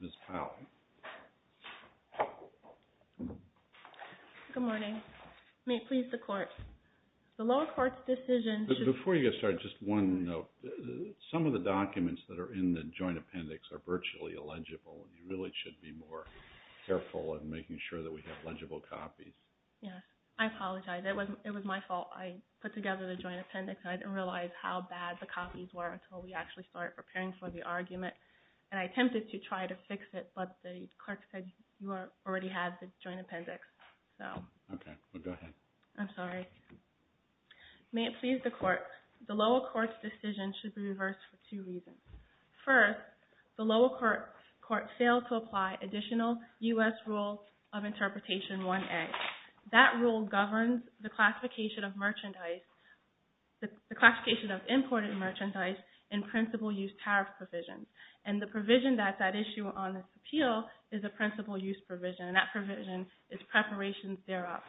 Ms. Powell. Good morning. May it please the court, the lower court's decision to Before you get started, just one note. Some of the documents that are in the joint appendix are virtually illegible. You really should be more careful in making sure that we have legible copies. I'm sorry. I'm sorry. I'm sorry. I'm sorry. I'm sorry. I'm sorry. I'm sorry. I'm sorry. I'm sorry. I didn't realize how bad the copies were until we actually started preparing for the argument. And I attempted to try to fix it, but the clerk said you already had the joint appendix. Okay. Well, go ahead. May it please the court, the lower court's decision should be reversed for two reasons. First, the lower court's failed to apply additional U.S. Rules of Interpretation 1a. That rule governs the classification of merchandise, the classification of imported merchandise in principal use tariff provisions. And the provision that's at issue on this appeal is a principal use provision. And that provision is preparations thereof.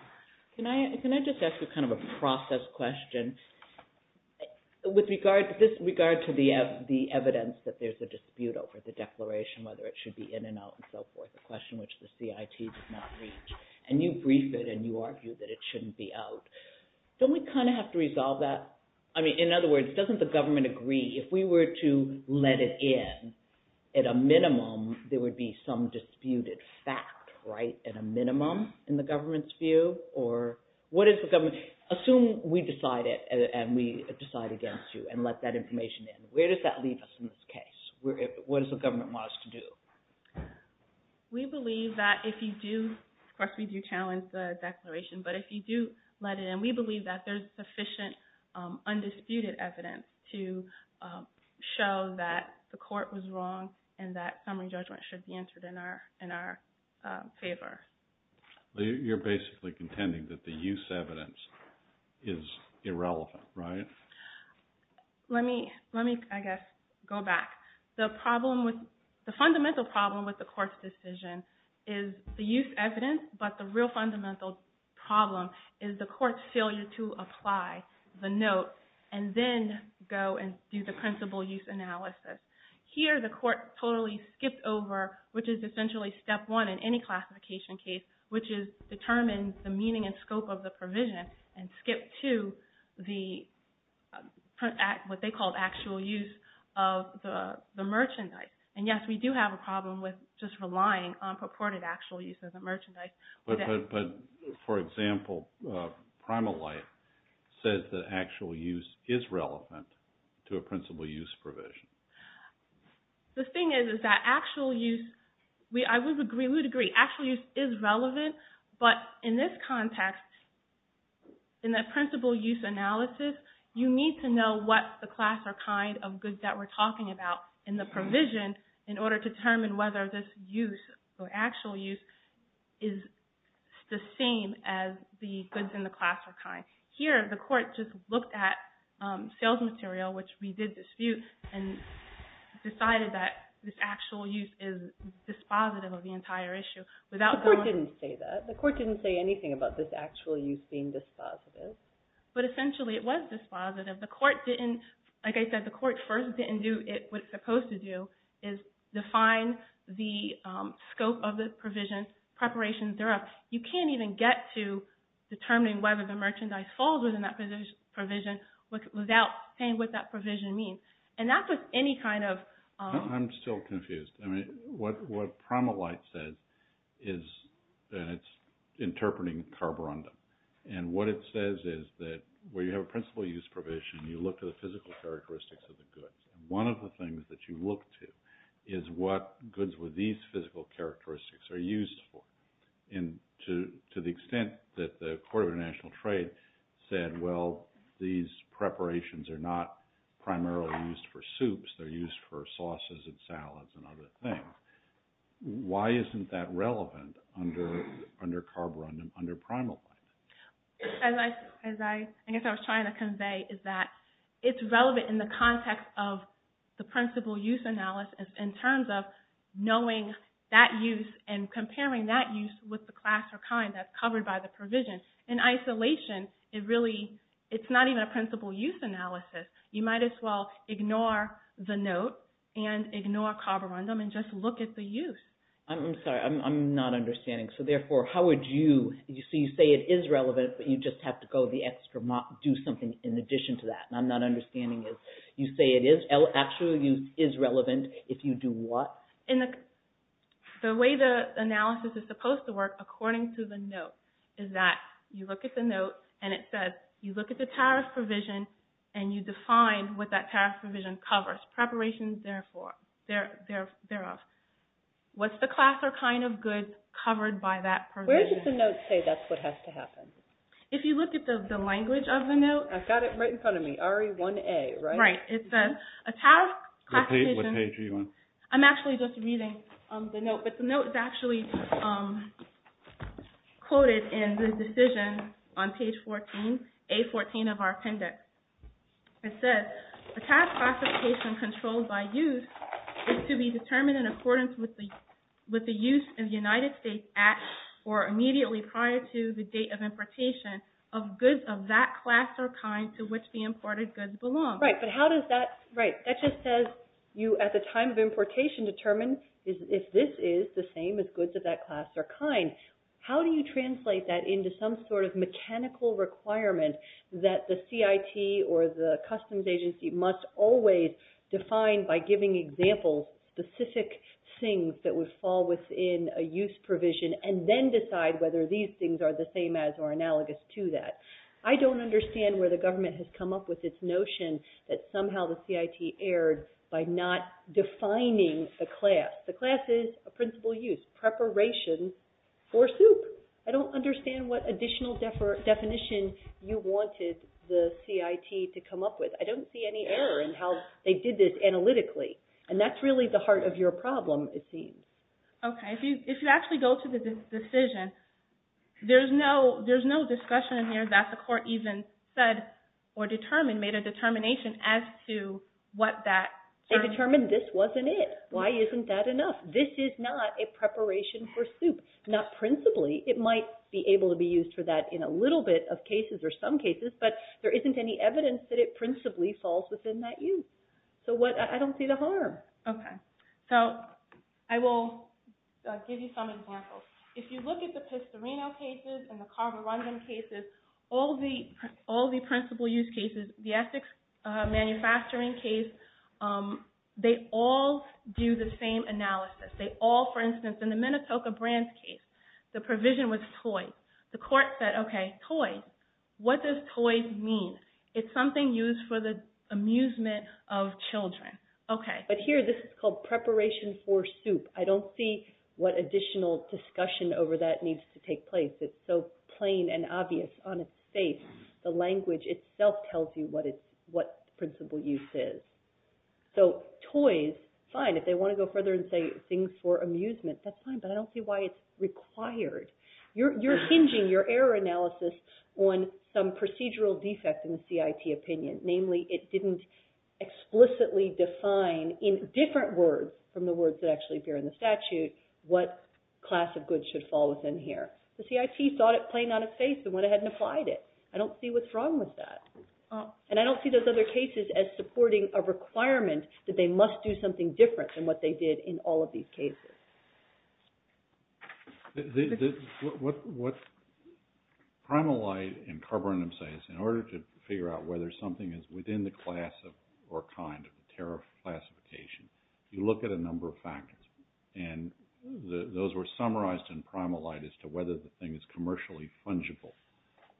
Can I just ask you kind of a process question? With regard to this, with regard to the evidence that there's a dispute over the declaration, whether it should be in and out and so forth, a question which the CIT did not reach. And you briefed it and you argued that it shouldn't be out. Don't we kind of have to resolve that? I mean, in other words, doesn't the government agree, if we were to let it in, at a minimum, there would be some disputed fact, right, at a minimum, in the government's view? Or what is the government, assume we decide it and we decide against you and let that information in. Where does that leave us in this case? What does the government want us to do? We believe that if you do, of course we do challenge the declaration, but if you do let it in, we believe that there's sufficient undisputed evidence to show that the court was wrong and that summary judgment should be entered in our favor. You're basically contending that the use evidence is irrelevant, right? Let me, I guess, go back. The problem with, the fundamental problem with the court's decision is the use evidence, but the real fundamental problem is the court's failure to apply the note and then go and do the principal use analysis. Here the court totally skipped over, which is essentially step one in any classification case, which is determine the meaning and scope of the provision and skip to the, what they call the actual use of the merchandise. And yes, we do have a problem with just relying on purported actual use of the merchandise. For example, Primal Light says that actual use is relevant to a principal use provision. The thing is, is that actual use, I would agree, we would agree, actual use is relevant, but in this context, in that principal use analysis, you need to know what's the class or kind of goods that we're talking about in the provision in order to determine whether this use or actual use is the same as the goods in the class or kind. Here the court just looked at sales material, which we did dispute, and decided that this actual use is dispositive of the entire issue, without going- The court didn't say anything about this actual use being dispositive. But essentially, it was dispositive. The court didn't, like I said, the court first didn't do what it's supposed to do, is define the scope of the provision, preparation, and so on. You can't even get to determining whether the merchandise falls within that provision without saying what that provision means. And that's with any kind of- I'm still confused. I mean, what Primal Light said is that it's interpreting carborundum. And what it says is that when you have a principal use provision, you look at the physical characteristics of the goods. One of the things that you look to is what goods with these physical characteristics are used for. And to the extent that the Court of International Trade said, well, these preparations are not a dispositive thing, why isn't that relevant under carborundum, under Primal Light? As I was trying to convey, is that it's relevant in the context of the principal use analysis in terms of knowing that use and comparing that use with the class or kind that's covered by the provision. In isolation, it really- it's not even a principal use analysis. You might as well ignore the note and ignore carborundum and just look at the use. I'm sorry. I'm not understanding. So, therefore, how would you- so you say it is relevant, but you just have to go the extra mile, do something in addition to that. And I'm not understanding it. You say it is- actual use is relevant if you do what? The way the analysis is supposed to work, according to the note, is that you look at the note and it says, you look at the tariff provision and you define what that tariff provision covers. Preparations thereof. What's the class or kind of goods covered by that provision? Where does the note say that's what has to happen? If you look at the language of the note- I've got it right in front of me, RE1A, right? Right. It says, a tariff classification- What page are you on? I'm actually just reading the note, but the note is actually quoted in the decision on page 14, A14 of our appendix. It says, a task classification controlled by use is to be determined in accordance with the use of the United States at or immediately prior to the date of importation of goods of that class or kind to which the imported goods belong. Right. But how does that- Right. That just says you, at the time of importation, determine if this is the same as goods of that class or kind. How do you translate that into some sort of mechanical requirement that the CIT or the customs agency must always define by giving examples, specific things that would fall within a use provision and then decide whether these things are the same as or analogous to that? I don't understand where the government has come up with this notion that somehow the CIT erred by not defining the class. The class is a principal use, preparation for soup. I don't understand what additional definition you wanted the CIT to come up with. I don't see any error in how they did this analytically. And that's really the heart of your problem, it seems. Okay. If you actually go to the decision, there's no discussion in here that the court even said or determined, made a determination as to what that- They determined this wasn't it. Why isn't that enough? This is not a preparation for soup. Not principally. It might be able to be used for that in a little bit of cases or some cases, but there isn't any evidence that it principally falls within that use. So I don't see the harm. Okay. So I will give you some examples. If you look at the Pistorino cases and the Carborundum cases, all the principal use cases, the Essex Manufacturing case, they all do the same analysis. They all, for instance, in the Minnetonka Brands case, the provision was toys. The court said, okay, toys. What does toys mean? It's something used for the amusement of children. Okay. But here, this is called preparation for soup. I don't see what additional discussion over that needs to take place. It's so plain and obvious on its face. The language itself tells you what principal use is. So toys, fine. If they want to go further and say things for amusement, that's fine, but I don't see why it's required. You're hinging your error analysis on some procedural defect in the CIT opinion. Namely, it didn't explicitly define in different words from the words that actually appear in the statute what class of goods should fall within here. The CIT saw it plain on its face and went ahead and applied it. I don't see what's wrong with that. And I don't see those other cases as supporting a requirement that they must do something different than what they did in all of these cases. What Primal Light and Carborundum say is in order to figure out whether something is within the class or kind of the tariff classification, you look at a number of factors. And those were summarized in Primal Light as to whether the thing is commercially fungible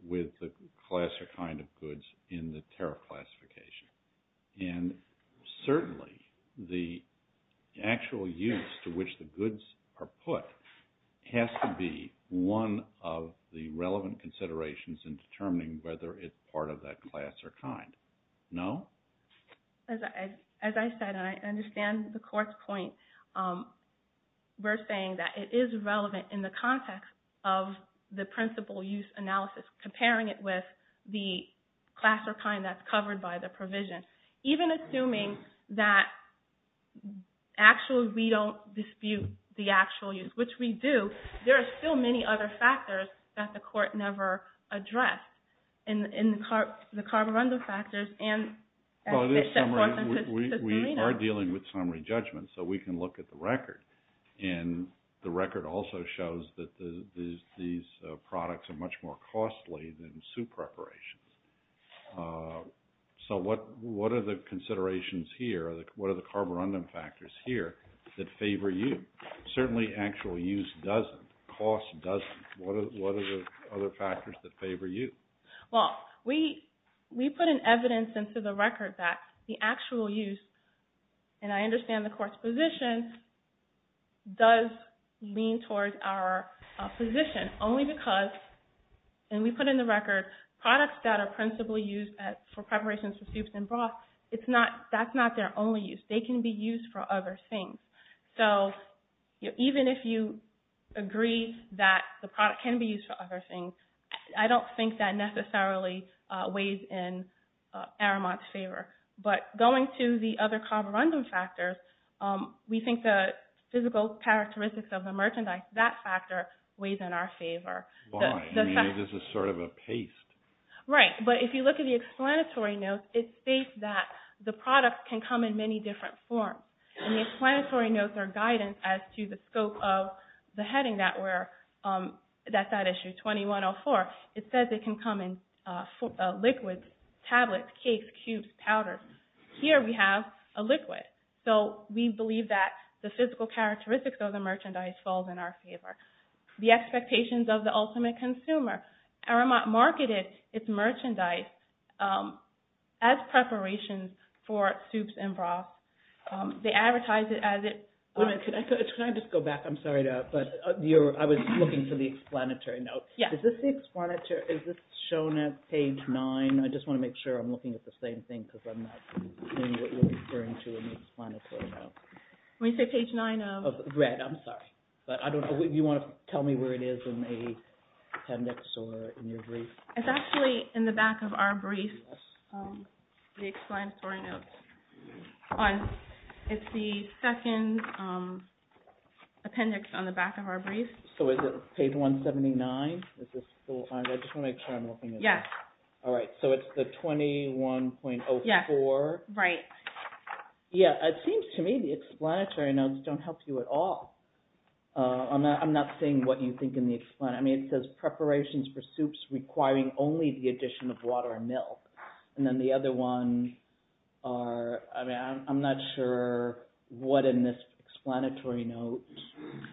with the class or kind of goods in the tariff classification. And certainly, the actual use to which the goods are put has to be one of the relevant considerations in determining whether it's part of that class or kind. No? As I said, and I understand the Court's point, we're saying that it is relevant in the context of the principal use analysis, comparing it with the class or kind that's covered by the provision. Even assuming that actually we don't dispute the actual use, which we do, there are still many other factors that the Court never addressed in the Carborundum factors and that the Court doesn't sustain. We are dealing with summary judgments, so we can look at the record. And the record also shows that these products are much more costly than soup preparations. So, what are the considerations here, what are the Carborundum factors here that favor you? Certainly, actual use doesn't, cost doesn't, what are the other factors that favor you? Well, we put an evidence into the record that the actual use, and I understand the Court's position, does lean towards our position only because, and we put in the record, products that are principally used for preparations for soups and broths, that's not their only use. They can be used for other things. So, even if you agree that the product can be used for other things, I don't think that necessarily weighs in Aramont's favor. But going to the other Carborundum factors, we think the physical characteristics of the merchandise, that factor weighs in our favor. Why? You mean this is sort of a paste? Right. But if you look at the explanatory notes, it states that the products can come in many different forms. And the explanatory notes are guidance as to the scope of the heading that we're, that's that issue, 2104, it says it can come in liquids, tablets, cakes, cubes, powders. Here we have a liquid. So we believe that the physical characteristics of the merchandise falls in our favor. The expectations of the ultimate consumer, Aramont marketed its merchandise as preparations for soups and broths. They advertise it as it... Can I just go back? I'm sorry to interrupt, but I was looking for the explanatory notes. Yeah. Is this the explanatory, is this shown at page nine? I just want to make sure I'm looking at the same thing because I'm not seeing what you're referring to in the explanatory notes. When you say page nine of... Red, I'm sorry. But I don't know, you want to tell me where it is in the appendix or in your brief? It's actually in the back of our brief, the explanatory notes. It's the second appendix on the back of our brief. So is it page 179? I just want to make sure I'm looking at this. Yes. All right. So it's the 21.04. Yes. Right. Yeah. It seems to me the explanatory notes don't help you at all. I'm not seeing what you think in the explanatory. I mean, it says preparations for soups requiring only the addition of water and milk. And then the other one are... I mean, I'm not sure what in this explanatory note...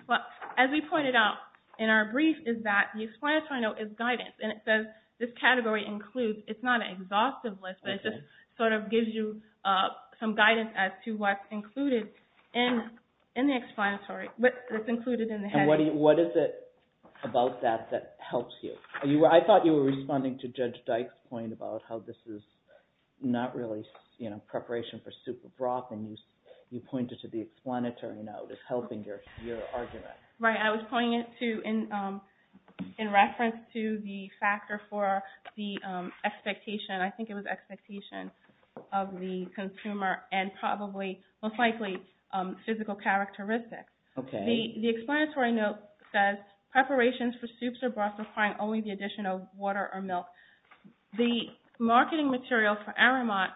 Well, as we pointed out in our brief is that the explanatory note is guidance. And it says this category includes... It's not an exhaustive list, but it just sort of gives you some guidance as to what's included in the explanatory, what's included in the heading. And what is it about that that helps you? I thought you were responding to Judge Dyke's point about how this is not really preparation for soup or broth. And you pointed to the explanatory note as helping your argument. Right. I was pointing it to in reference to the factor for the expectation. I think it was expectation of the consumer and probably, most likely, physical characteristics. Okay. The explanatory note says preparations for soups or broths requiring only the addition of water or milk. The marketing material for Aramont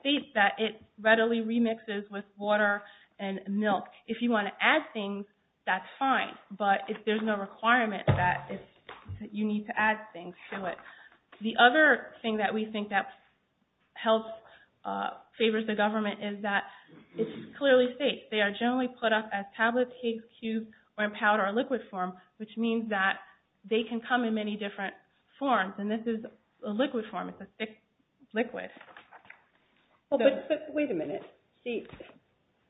states that it readily remixes with water and milk. If you want to add things, that's fine. But if there's no requirement that you need to add things to it. The other thing that we think that helps, favors the government is that it clearly states they are generally put up as tablets, cakes, cubes, or in powder or liquid form, which means that they can come in many different forms. And this is a liquid form. It's a thick liquid. But wait a minute. See,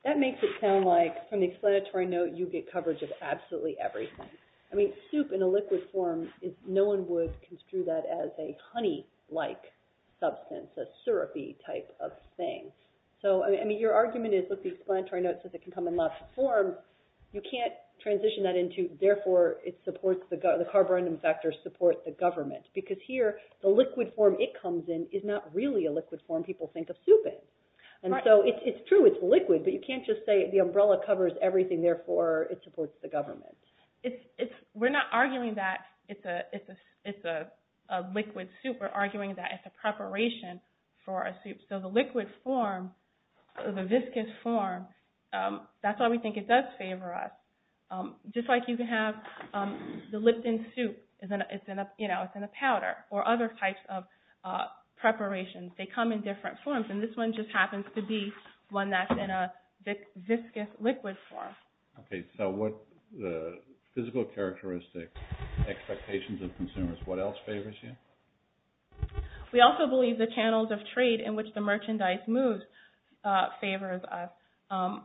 that makes it sound like from the explanatory note you get coverage of absolutely everything. I mean, soup in a liquid form, no one would construe that as a honey-like substance, a syrupy type of thing. So, I mean, your argument is, look, the explanatory note says it can come in lots of forms. You can't transition that into, therefore, the carborundum factors support the government. Because here, the liquid form it comes in is not really a liquid form people think of soup in. And so it's true, it's liquid, but you can't just say the umbrella covers everything, therefore, it supports the government. We're not arguing that it's a liquid soup. We're arguing that it's a preparation for a soup. So the liquid form, the viscous form, that's why we think it does favor us. Just like you can have the lipton soup. It's in a powder or other types of preparations. They come in different forms. And this one just happens to be one that's in a viscous liquid form. Okay, so what the physical characteristics, expectations of consumers, what else favors you? We also believe the channels of trade in which the merchandise moves favors us.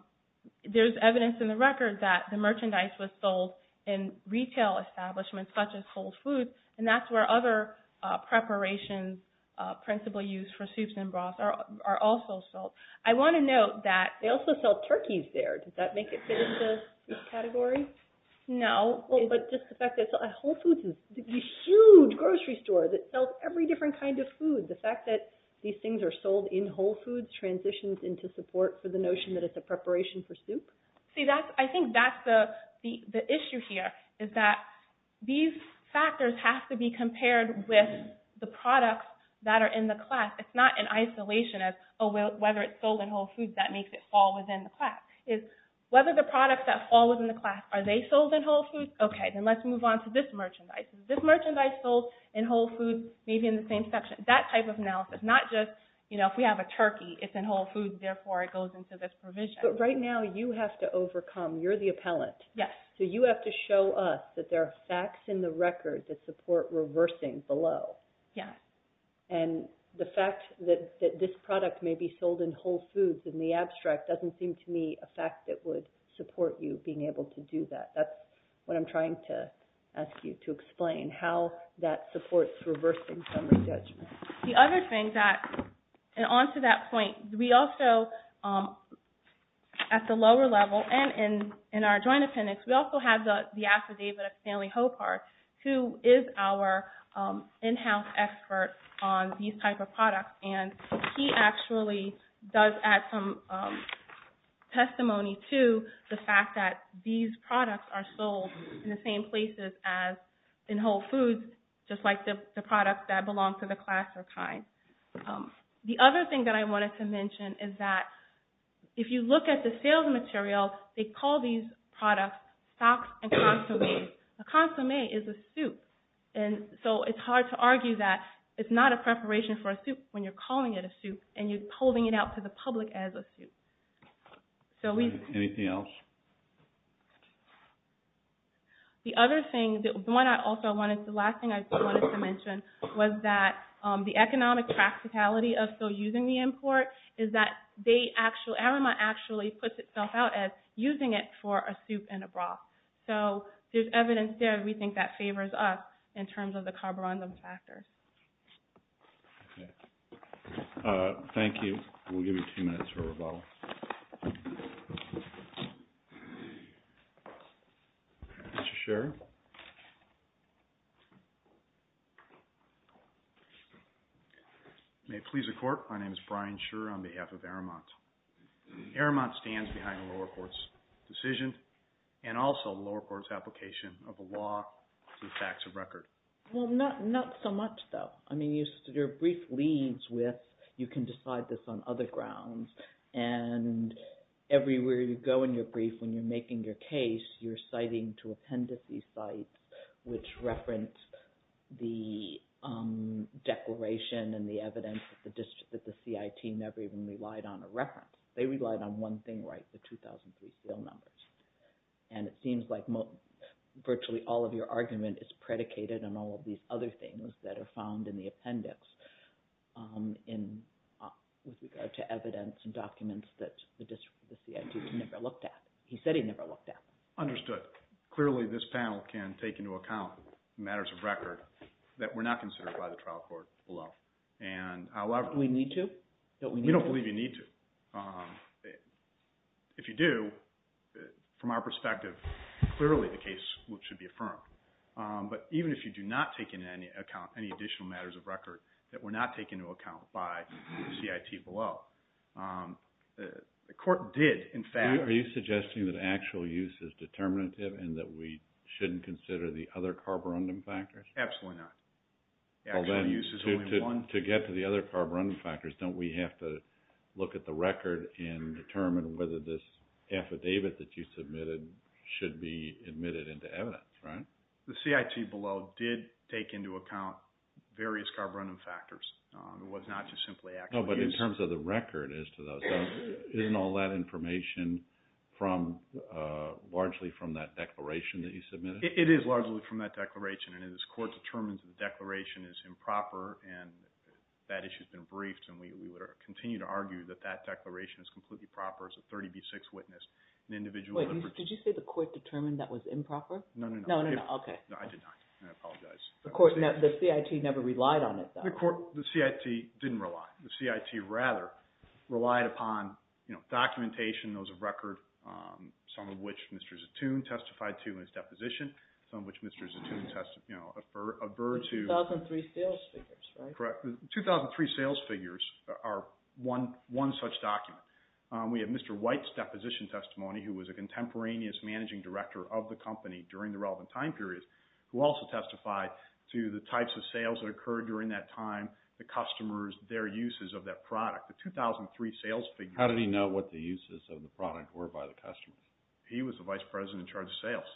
There's evidence in the record that the merchandise was sold in retail establishments such as Whole Foods, and that's where other preparations principally used for soups and broths are also sold. I want to note that they also sell turkeys there. Does that make it fit into this category? No. Whole Foods is a huge grocery store that sells every different kind of food. The fact that these things are sold in Whole Foods transitions into support for the notion that it's a preparation for soup? See, I think that's the issue here is that these factors have to be compared with the products that are in the class. It's not an isolation of whether it's sold in Whole Foods that makes it fall within the class. It's whether the products that fall within the class, are they sold in Whole Foods? Okay, then let's move on to this merchandise. Is this merchandise sold in Whole Foods maybe in the same section? That type of analysis, not just, you know, if we have a turkey, it's in Whole Foods, therefore it goes into this provision. But right now, you have to overcome. You're the appellant. Yes. So you have to show us that there are facts in the record that support reversing below. Yes. And the fact that this product may be sold in Whole Foods in the abstract doesn't seem to me a fact that would support you being able to do that. That's what I'm trying to ask you to explain, how that supports reversing summary judgment. The other thing that, and on to that point, we also, at the lower level and in our joint appendix, we also have the affidavit of Stanley Hopart, who is our in-house expert on these type of products. And he actually does add some testimony to the fact that these products are sold in the same places as in Whole Foods, just like the products that belong to the class or kind. The other thing that I wanted to mention is that if you look at the sales material, they call these products stocks and consomme. A consomme is a soup. And so it's hard to argue that it's not a preparation for a soup when you're calling it a soup and you're holding it out to the public as a soup. Anything else? The other thing, the last thing I wanted to mention was that the economic practicality of still using the import is that Aroma actually puts itself out as using it for a soup and a broth. So there's evidence there we think that favors us in terms of the carburizum factors. Okay. Thank you. We'll give you two minutes for rebuttal. Mr. Scherer. May it please the Court. My name is Brian Scherer on behalf of Aramont. Aramont stands behind the lower court's decision and also the lower court's application of the law to the facts of record. Well, not so much, though. I mean your brief leads with you can decide this on other grounds, and everywhere you go in your brief when you're making your case, you're citing two appendices sites which reference the declaration and the evidence that the CIT never even relied on a reference. They relied on one thing, right, the 2003 seal numbers. And it seems like virtually all of your argument is predicated on all of these other things that are found in the appendix with regard to evidence and documents that the CIT never looked at. He said he never looked at them. Understood. Clearly, this panel can take into account matters of record that were not considered by the trial court below. Do we need to? We don't believe you need to. If you do, from our perspective, clearly the case should be affirmed. But even if you do not take into account any additional matters of record that were not taken into account by the CIT below, the court did in fact Are you suggesting that actual use is determinative and that we shouldn't consider the other carborundum factors? Absolutely not. To get to the other carborundum factors, don't we have to look at the record and determine whether this affidavit that you submitted should be admitted into evidence, right? The CIT below did take into account various carborundum factors. It was not just simply actual use. But in terms of the record as to those, isn't all that information largely from that declaration that you submitted? It is largely from that declaration. And this court determines that the declaration is improper and that issue has been briefed. And we would continue to argue that that declaration is completely proper as a 30B6 witness. Did you say the court determined that was improper? No, no, no. I did not. I apologize. The CIT never relied on it, though. The CIT didn't rely. The CIT, rather, relied upon documentation, those of record, some of which Mr. Zatoun testified to in his deposition, some of which Mr. Zatoun averted to. The 2003 sales figures, right? Correct. The 2003 sales figures are one such document. We have Mr. White's deposition testimony, who was a contemporaneous managing director of the company during the relevant time periods, who also testified to the types of sales that occurred during that time, the customers, their uses of that product. The 2003 sales figures. How did he know what the uses of the product were by the customer? He was the vice president in charge of sales.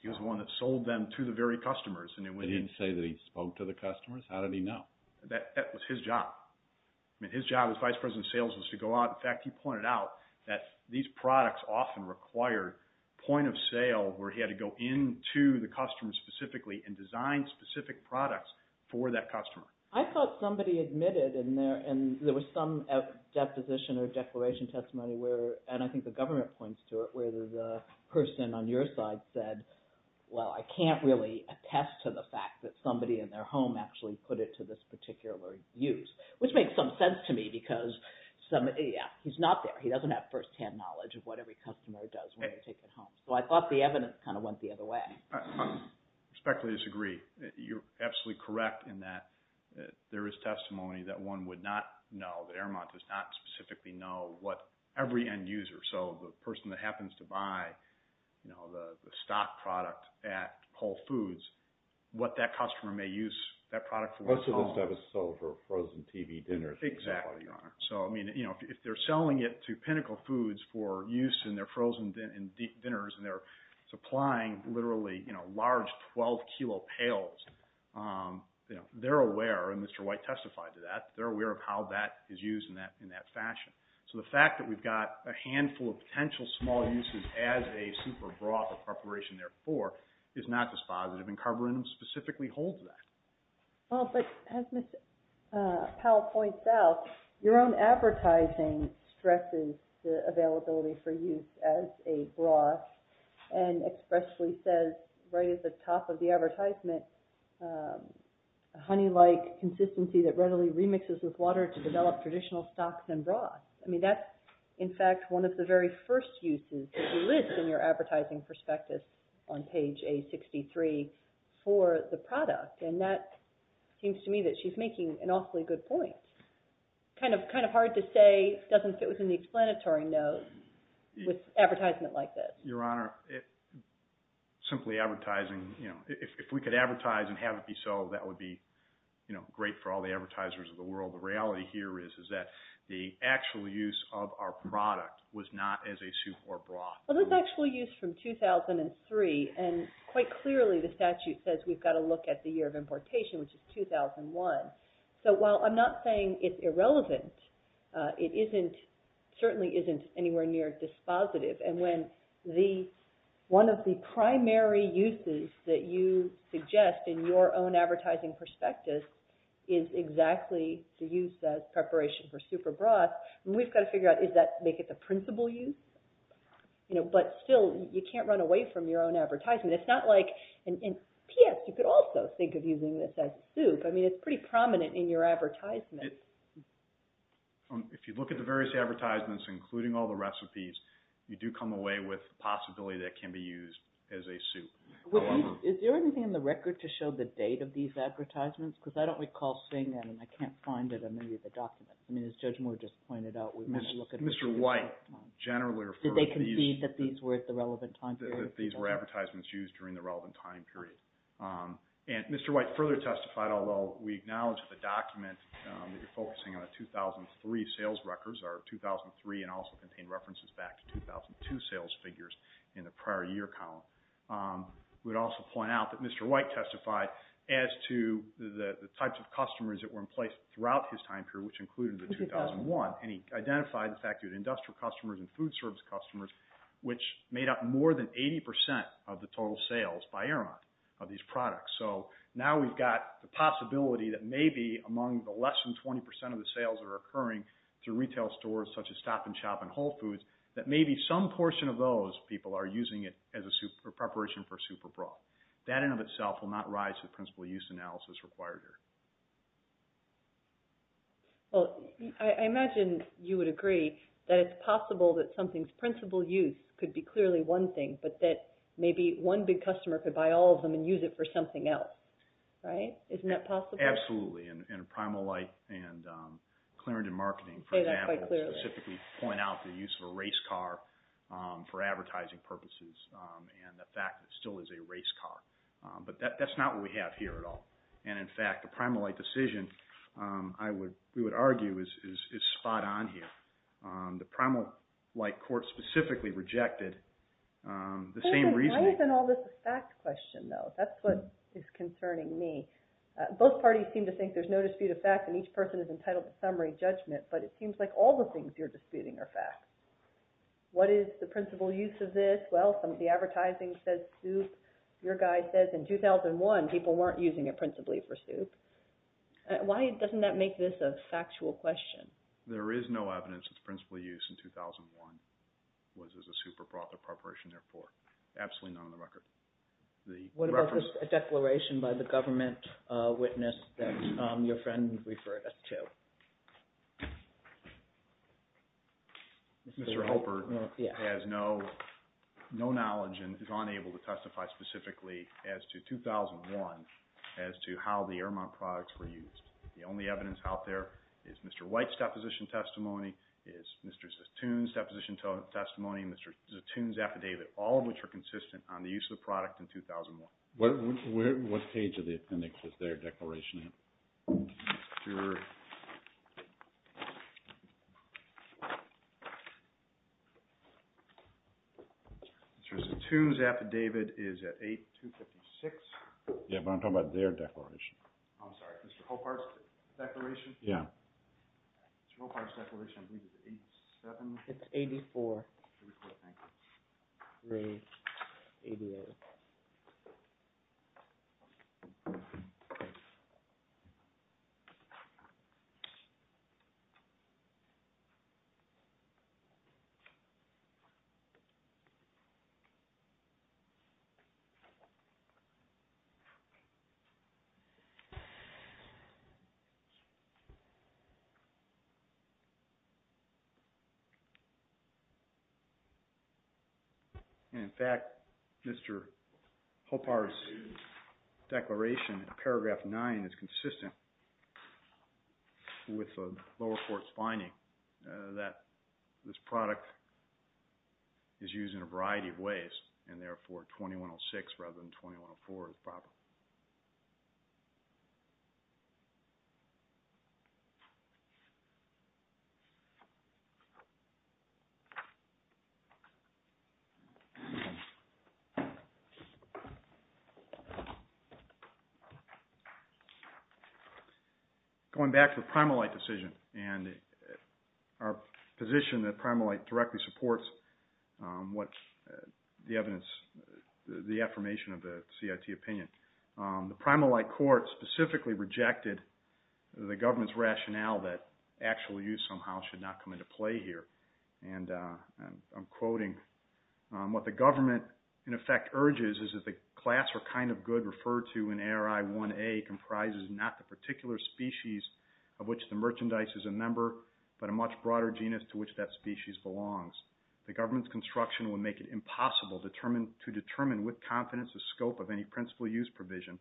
He was the one that sold them to the very customers. And he didn't say that he spoke to the customers? How did he know? That was his job. I mean, his job as vice president of sales was to go out. In fact, he pointed out that these products often required point of sale where he had to go into the customer specifically and design specific products for that customer. I thought somebody admitted in there, and there was some deposition or declaration testimony where, and I think the government points to it, where the person on your side said, well, I can't really attest to the fact that somebody in their home actually put it to this particular use, which makes some sense to me because he's not there. He doesn't have firsthand knowledge of what every customer does when they take it home. So I thought the evidence kind of went the other way. I respectfully disagree. You're absolutely correct in that there is testimony that one would not know, that Aramont does not specifically know what every end user, so the person that happens to buy the stock product at Whole Foods, what that customer may use that product for. Most of this stuff is sold for frozen TV dinners. Exactly, Your Honor. So, I mean, if they're selling it to Pinnacle Foods for use in their frozen dinners and they're supplying literally large 12-kilo pails, they're aware, and Mr. White testified to that, they're aware of how that is used in that fashion. So the fact that we've got a handful of potential small uses as a soup or broth or preparation therefore is not dispositive, and Carborundum specifically holds that. Well, but as Ms. Powell points out, your own advertising stresses the availability for use as a broth and expressly says right at the top of the advertisement, honey-like consistency that readily remixes with water to develop traditional stocks and broths. I mean, that's, in fact, one of the very first uses that you list in your advertising prospectus on page A63 for the product, and that seems to me that she's making an awfully good point. It's kind of hard to say it doesn't fit within the explanatory notes with advertisement like this. Your Honor, simply advertising, if we could advertise and have it be so, that would be great for all the advertisers of the world. The reality here is that the actual use of our product was not as a soup or broth. Well, that's actual use from 2003, and quite clearly the statute says we've got to look at the year of importation, which is 2001. So while I'm not saying it's irrelevant, it certainly isn't anywhere near dispositive. And when one of the primary uses that you suggest in your own advertising prospectus is exactly to use as preparation for soup or broth, we've got to figure out, is that to make it the principal use? But still, you can't run away from your own advertisement. And P.S., you could also think of using this as soup. I mean, it's pretty prominent in your advertisement. If you look at the various advertisements, including all the recipes, you do come away with the possibility that it can be used as a soup. Is there anything in the record to show the date of these advertisements? Because I don't recall seeing that, and I can't find it on any of the documents. I mean, as Judge Moore just pointed out, we've got to look at it. Did they concede that these were at the relevant time period? That these were advertisements used during the relevant time period. And Mr. White further testified, although we acknowledge that the document that you're focusing on, the 2003 sales records are 2003 and also contain references back to 2002 sales figures in the prior year column. We would also point out that Mr. White testified as to the types of customers that were in place throughout his time period, which included the 2001. And he identified the fact that he had industrial customers and food service customers, which made up more than 80% of the total sales by era of these products. So now we've got the possibility that maybe among the less than 20% of the sales that are occurring through retail stores, such as Stop and Shop and Whole Foods, that maybe some portion of those people are using it as a preparation for a soup or broth. That in and of itself will not rise to the principal use analysis required here. Well, I imagine you would agree that it's possible that something's principal use could be clearly one thing, but that maybe one big customer could buy all of them and use it for something else, right? Isn't that possible? Absolutely. And Primal Light and Clarington Marketing, for example, specifically point out the use of a race car for advertising purposes and the fact that it still is a race car. But that's not what we have here at all. And in fact, the Primal Light decision, we would argue, is spot on here. The Primal Light court specifically rejected the same reasoning. Why isn't all this a fact question, though? That's what is concerning me. Both parties seem to think there's no dispute of fact and each person is entitled to summary judgment, but it seems like all the things you're disputing are facts. What is the principal use of this? Well, the advertising says soup. Your guy says in 2001 people weren't using it principally for soup. Why doesn't that make this a factual question? There is no evidence that the principal use in 2001 was as a super profit preparation, therefore. Absolutely not on the record. What about the declaration by the government witness that your friend referred us to? Mr. Helper has no knowledge and is unable to testify specifically as to 2001 as to how the Airmont products were used. The only evidence out there is Mr. White's deposition testimony, is Mr. Zatoon's deposition testimony, Mr. Zatoon's affidavit, all of which are consistent on the use of the product in 2001. What page of the appendix is their declaration in? Sure. Mr. Zatoon's affidavit is at 8256. Yeah, but I'm talking about their declaration. I'm sorry, Mr. Hopart's declaration? Yeah. Mr. Hopart's declaration, I believe it's 87. It's 84. Very quick, thank you. Great. 88. Thank you. With the lower court's finding that this product is used in a variety of ways and therefore 2106 rather than 2104 is proper. Going back to the Primalight decision and our position that Primalight directly supports what the evidence, the affirmation of the CIT opinion. The Primalight court specifically rejected the government's rationale that actual use somehow should not come into play here. I'm quoting. What the government, in effect, urges is that the class or kind of good referred to in ARI 1A comprises not the particular species of which the merchandise is a member, but a much broader genus to which that species belongs. The government's construction would make it impossible to determine with confidence the scope of any principal use provision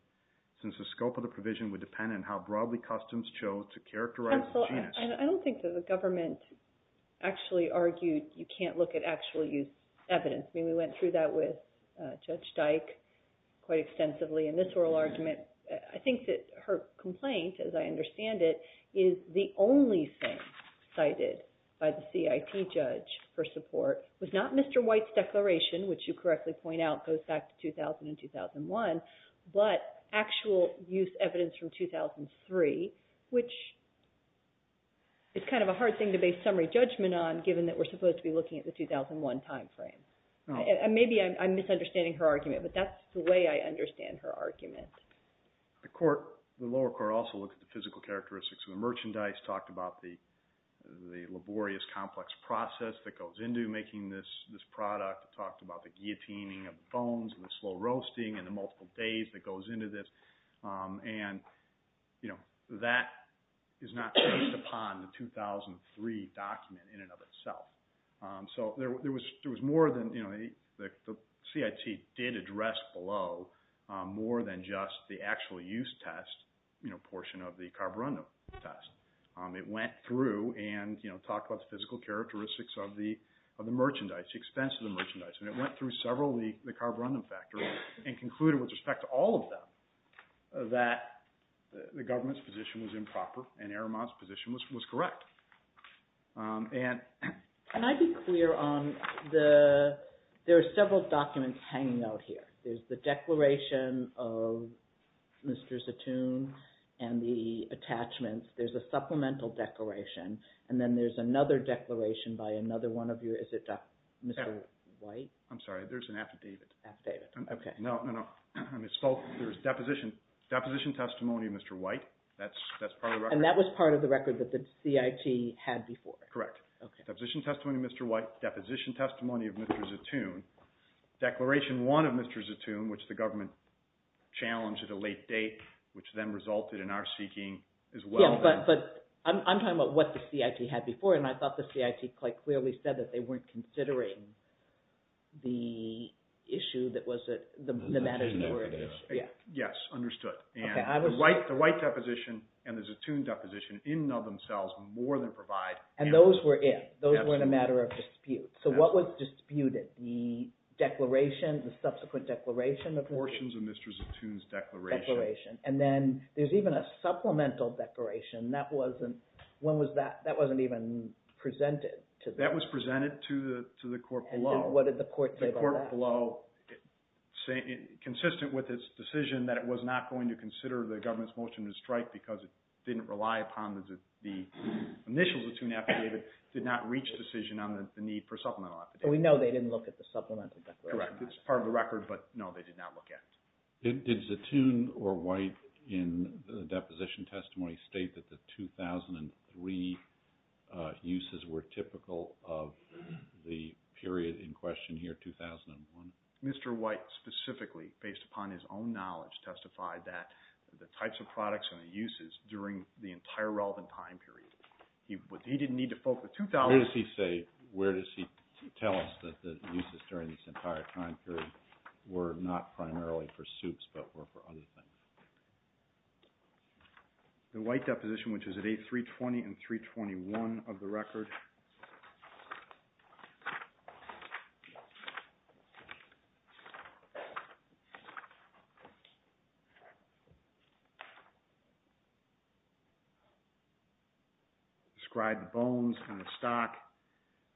since the scope of the provision would depend on how broadly customs chose to characterize the genus. I don't think that the government actually argued you can't look at actual use evidence. I mean, we went through that with Judge Dyke quite extensively in this oral argument. I think that her complaint, as I understand it, is the only thing cited by the CIT judge for support was not Mr. White's declaration, which you correctly point out goes back to 2000 and 2001, but actual use evidence from 2003, which is kind of a hard thing to base summary judgment on given that we're supposed to be looking at the 2001 timeframe. Maybe I'm misunderstanding her argument, but that's the way I understand her argument. The lower court also looked at the physical characteristics of the merchandise, talked about the laborious complex process that goes into making this product, talked about the guillotining of bones and the slow roasting and the multiple days that goes into this, and that is not based upon the 2003 document in and of itself. So there was more than – the CIT did address below more than just the actual use test portion of the carborundum test. It went through and talked about the physical characteristics of the merchandise, the expense of the merchandise, and it went through several of the carborundum factors and concluded with respect to all of them that the government's position was improper and Aramont's position was correct. Can I be clear on the – there are several documents hanging out here. There's the declaration of Mr. Zatoun and the attachments. There's a supplemental declaration, and then there's another declaration by another one of your – is it Mr. White? I'm sorry. There's an affidavit. Affidavit. Okay. No, no, no. There's deposition testimony of Mr. White. That's part of the record. Correct. Deposition testimony of Mr. White, deposition testimony of Mr. Zatoun, declaration one of Mr. Zatoun, which the government challenged at a late date, which then resulted in our seeking as well. Yes, but I'm talking about what the CIT had before, and I thought the CIT quite clearly said that they weren't considering the issue that was – the matters that were at issue. Yes, understood. The White deposition and the Zatoun deposition in and of themselves more than provide – And those were in. Those were in a matter of dispute. So what was disputed? The declaration, the subsequent declaration of the – Portions of Mr. Zatoun's declaration. Declaration. And then there's even a supplemental declaration. That wasn't – when was that – that wasn't even presented to the – That was presented to the court below. And then what did the court say about that? Consistent with its decision that it was not going to consider the government's motion to strike because it didn't rely upon the initial Zatoun affidavit, did not reach a decision on the need for supplemental affidavit. So we know they didn't look at the supplemental declaration. Correct. It's part of the record, but no, they did not look at it. Did Zatoun or White in the deposition testimony state that the 2003 uses were typical of the period in question here, 2001? Mr. White specifically, based upon his own knowledge, testified that the types of products and the uses during the entire relevant time period. He didn't need to focus – Where does he say – where does he tell us that the uses during this entire time period were not primarily for soups but were for other things? The White deposition, which is at 8.320 and 3.21 of the record. Describe the bones and the stock,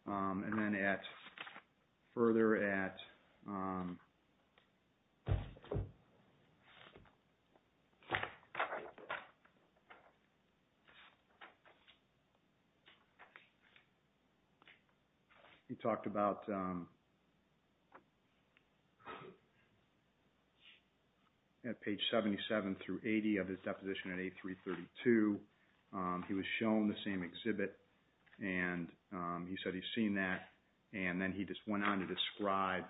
and then further at – He talked about – at page 77 through 80 of his deposition at 8.332. He was shown the same exhibit, and he said he's seen that. And then he just went on to describe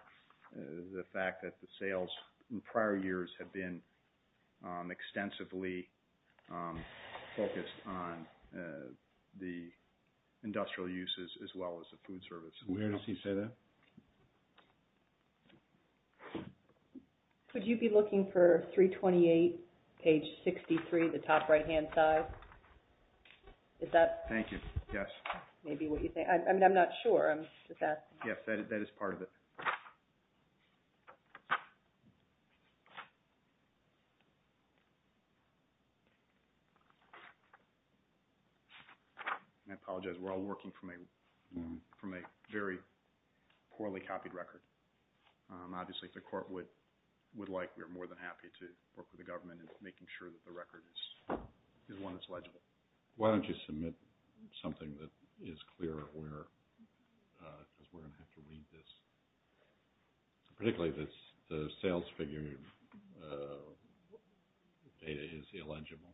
the fact that the sales in prior years have been extensively focused on the industrial uses as well as the food services. Where does he say that? Could you be looking for 328, page 63, the top right-hand side? Is that – Thank you. Yes. That may be what you think. I'm not sure. Yes, that is part of it. I apologize. We're all working from a very poorly copied record. Obviously, if the Court would like, we're more than happy to work with the government in making sure that the record is one that's legible. Why don't you submit something that is clear of where – because we're going to have to read this. Particularly, the sales figure data is illegible.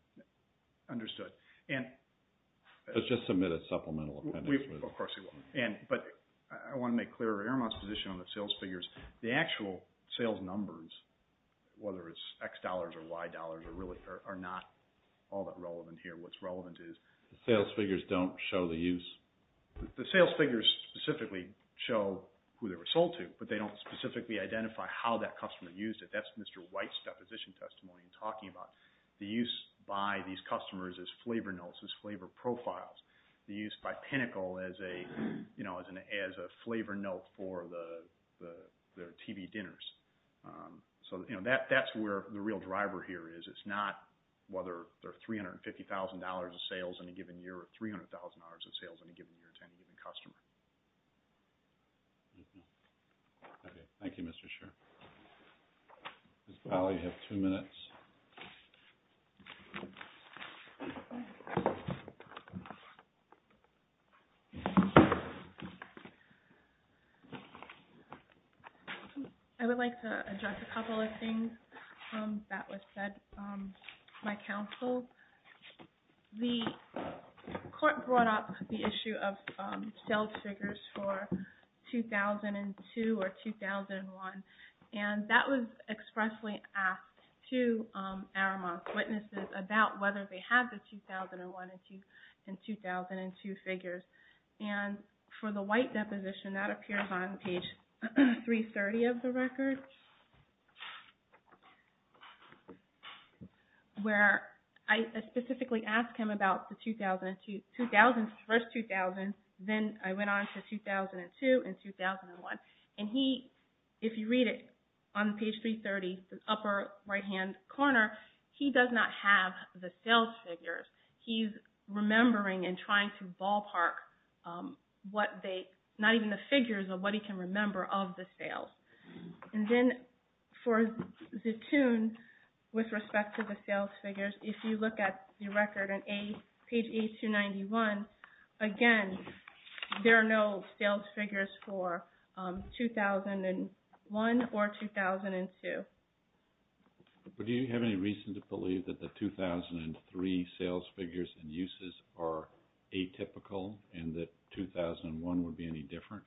Understood. Let's just submit a supplemental appendix. Of course you will. But I want to make clear of Erma's position on the sales figures. The actual sales numbers, whether it's X dollars or Y dollars, are not all that relevant here. What's relevant is – The sales figures don't show the use? The sales figures specifically show who they were sold to, but they don't specifically identify how that customer used it. That's Mr. White's deposition testimony in talking about the use by these customers as flavor notes, as flavor profiles. The use by Pinnacle as a flavor note for their TV dinners. So that's where the real driver here is. It's not whether there are $350,000 of sales in a given year or $300,000 of sales in a given year to any given customer. Okay. Thank you, Mr. Shurer. Ms. Pally, you have two minutes. Thank you. I would like to address a couple of things that were said by counsel. The court brought up the issue of sales figures for 2002 or 2001. And that was expressly asked to Aramont's witnesses about whether they had the 2001 and 2002 figures. And for the White deposition, that appears on page 330 of the record. Where I specifically asked him about the first 2000, then I went on to 2002 and 2001. And he, if you read it on page 330, the upper right-hand corner, he does not have the sales figures. He's remembering and trying to ballpark what they, not even the figures of what he can remember of the sales. And then for Zatoon, with respect to the sales figures, if you look at the record on page 8291, again, there are no sales figures for 2001 or 2002. But do you have any reason to believe that the 2003 sales figures and uses are atypical and that 2001 would be any different?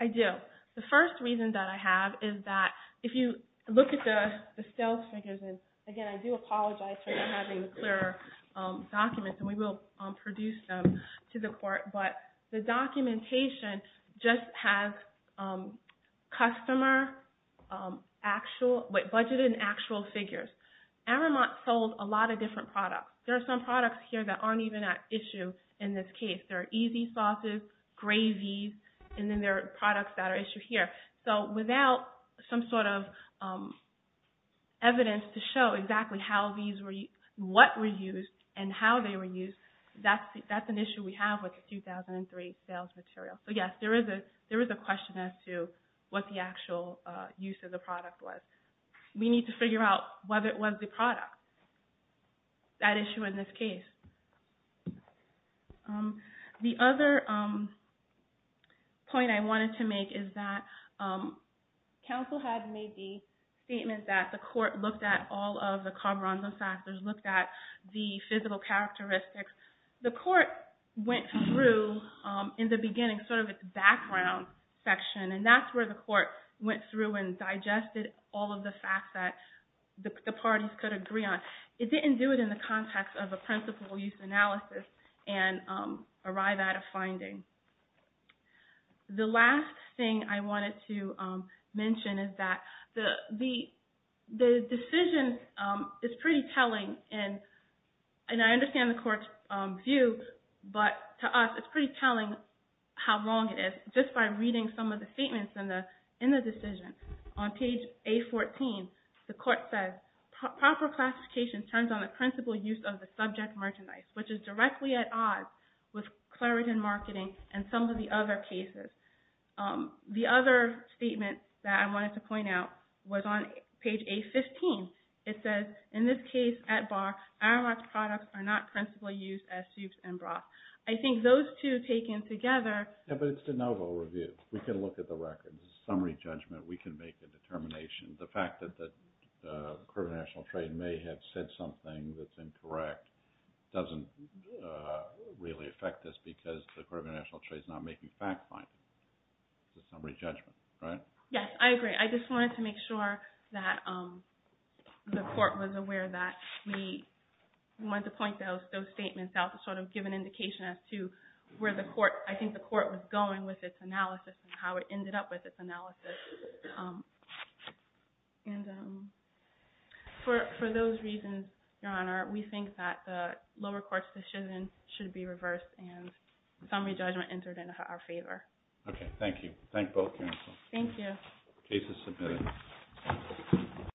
I do. The first reason that I have is that if you look at the sales figures, and again, I do apologize for not having the clearer documents, and we will produce them to the court, but the documentation just has customer actual, budgeted and actual figures. Aramont sold a lot of different products. There are some products here that aren't even at issue in this case. There are easy sauces, gravies, and then there are products that are issued here. So without some sort of evidence to show exactly what were used and how they were used, that's an issue we have with the 2003 sales material. So yes, there is a question as to what the actual use of the product was. We need to figure out whether it was the product, that issue in this case. The other point I wanted to make is that counsel had made the statement that the court looked at all of the cabaranzo factors, looked at the physical characteristics. The court went through, in the beginning, sort of its background section, and that's where the court went through and digested all of the facts that the parties could agree on. But it didn't do it in the context of a principal use analysis and arrive at a finding. The last thing I wanted to mention is that the decision is pretty telling, and I understand the court's views, but to us it's pretty telling how long it is. Just by reading some of the statements in the decision, on page A14, the court says proper classification turns on the principal use of the subject merchandise, which is directly at odds with Claritin marketing and some of the other cases. The other statement that I wanted to point out was on page A15. It says, in this case, at bar, Aramark's products are not principal use as soups and broth. I think those two taken together... Yeah, but it's de novo review. We can look at the records. It's a summary judgment. We can make a determination. The fact that the Court of International Trade may have said something that's incorrect doesn't really affect this because the Court of International Trade is not making fact-finding. It's a summary judgment, right? Yes, I agree. I just wanted to make sure that the court was aware that we wanted to point those statements out and not give an indication as to where I think the court was going with its analysis and how it ended up with its analysis. For those reasons, Your Honor, we think that the lower court's decision should be reversed and summary judgment entered in our favor. Okay, thank you. Thank both counsels. Thank you. Case is submitted.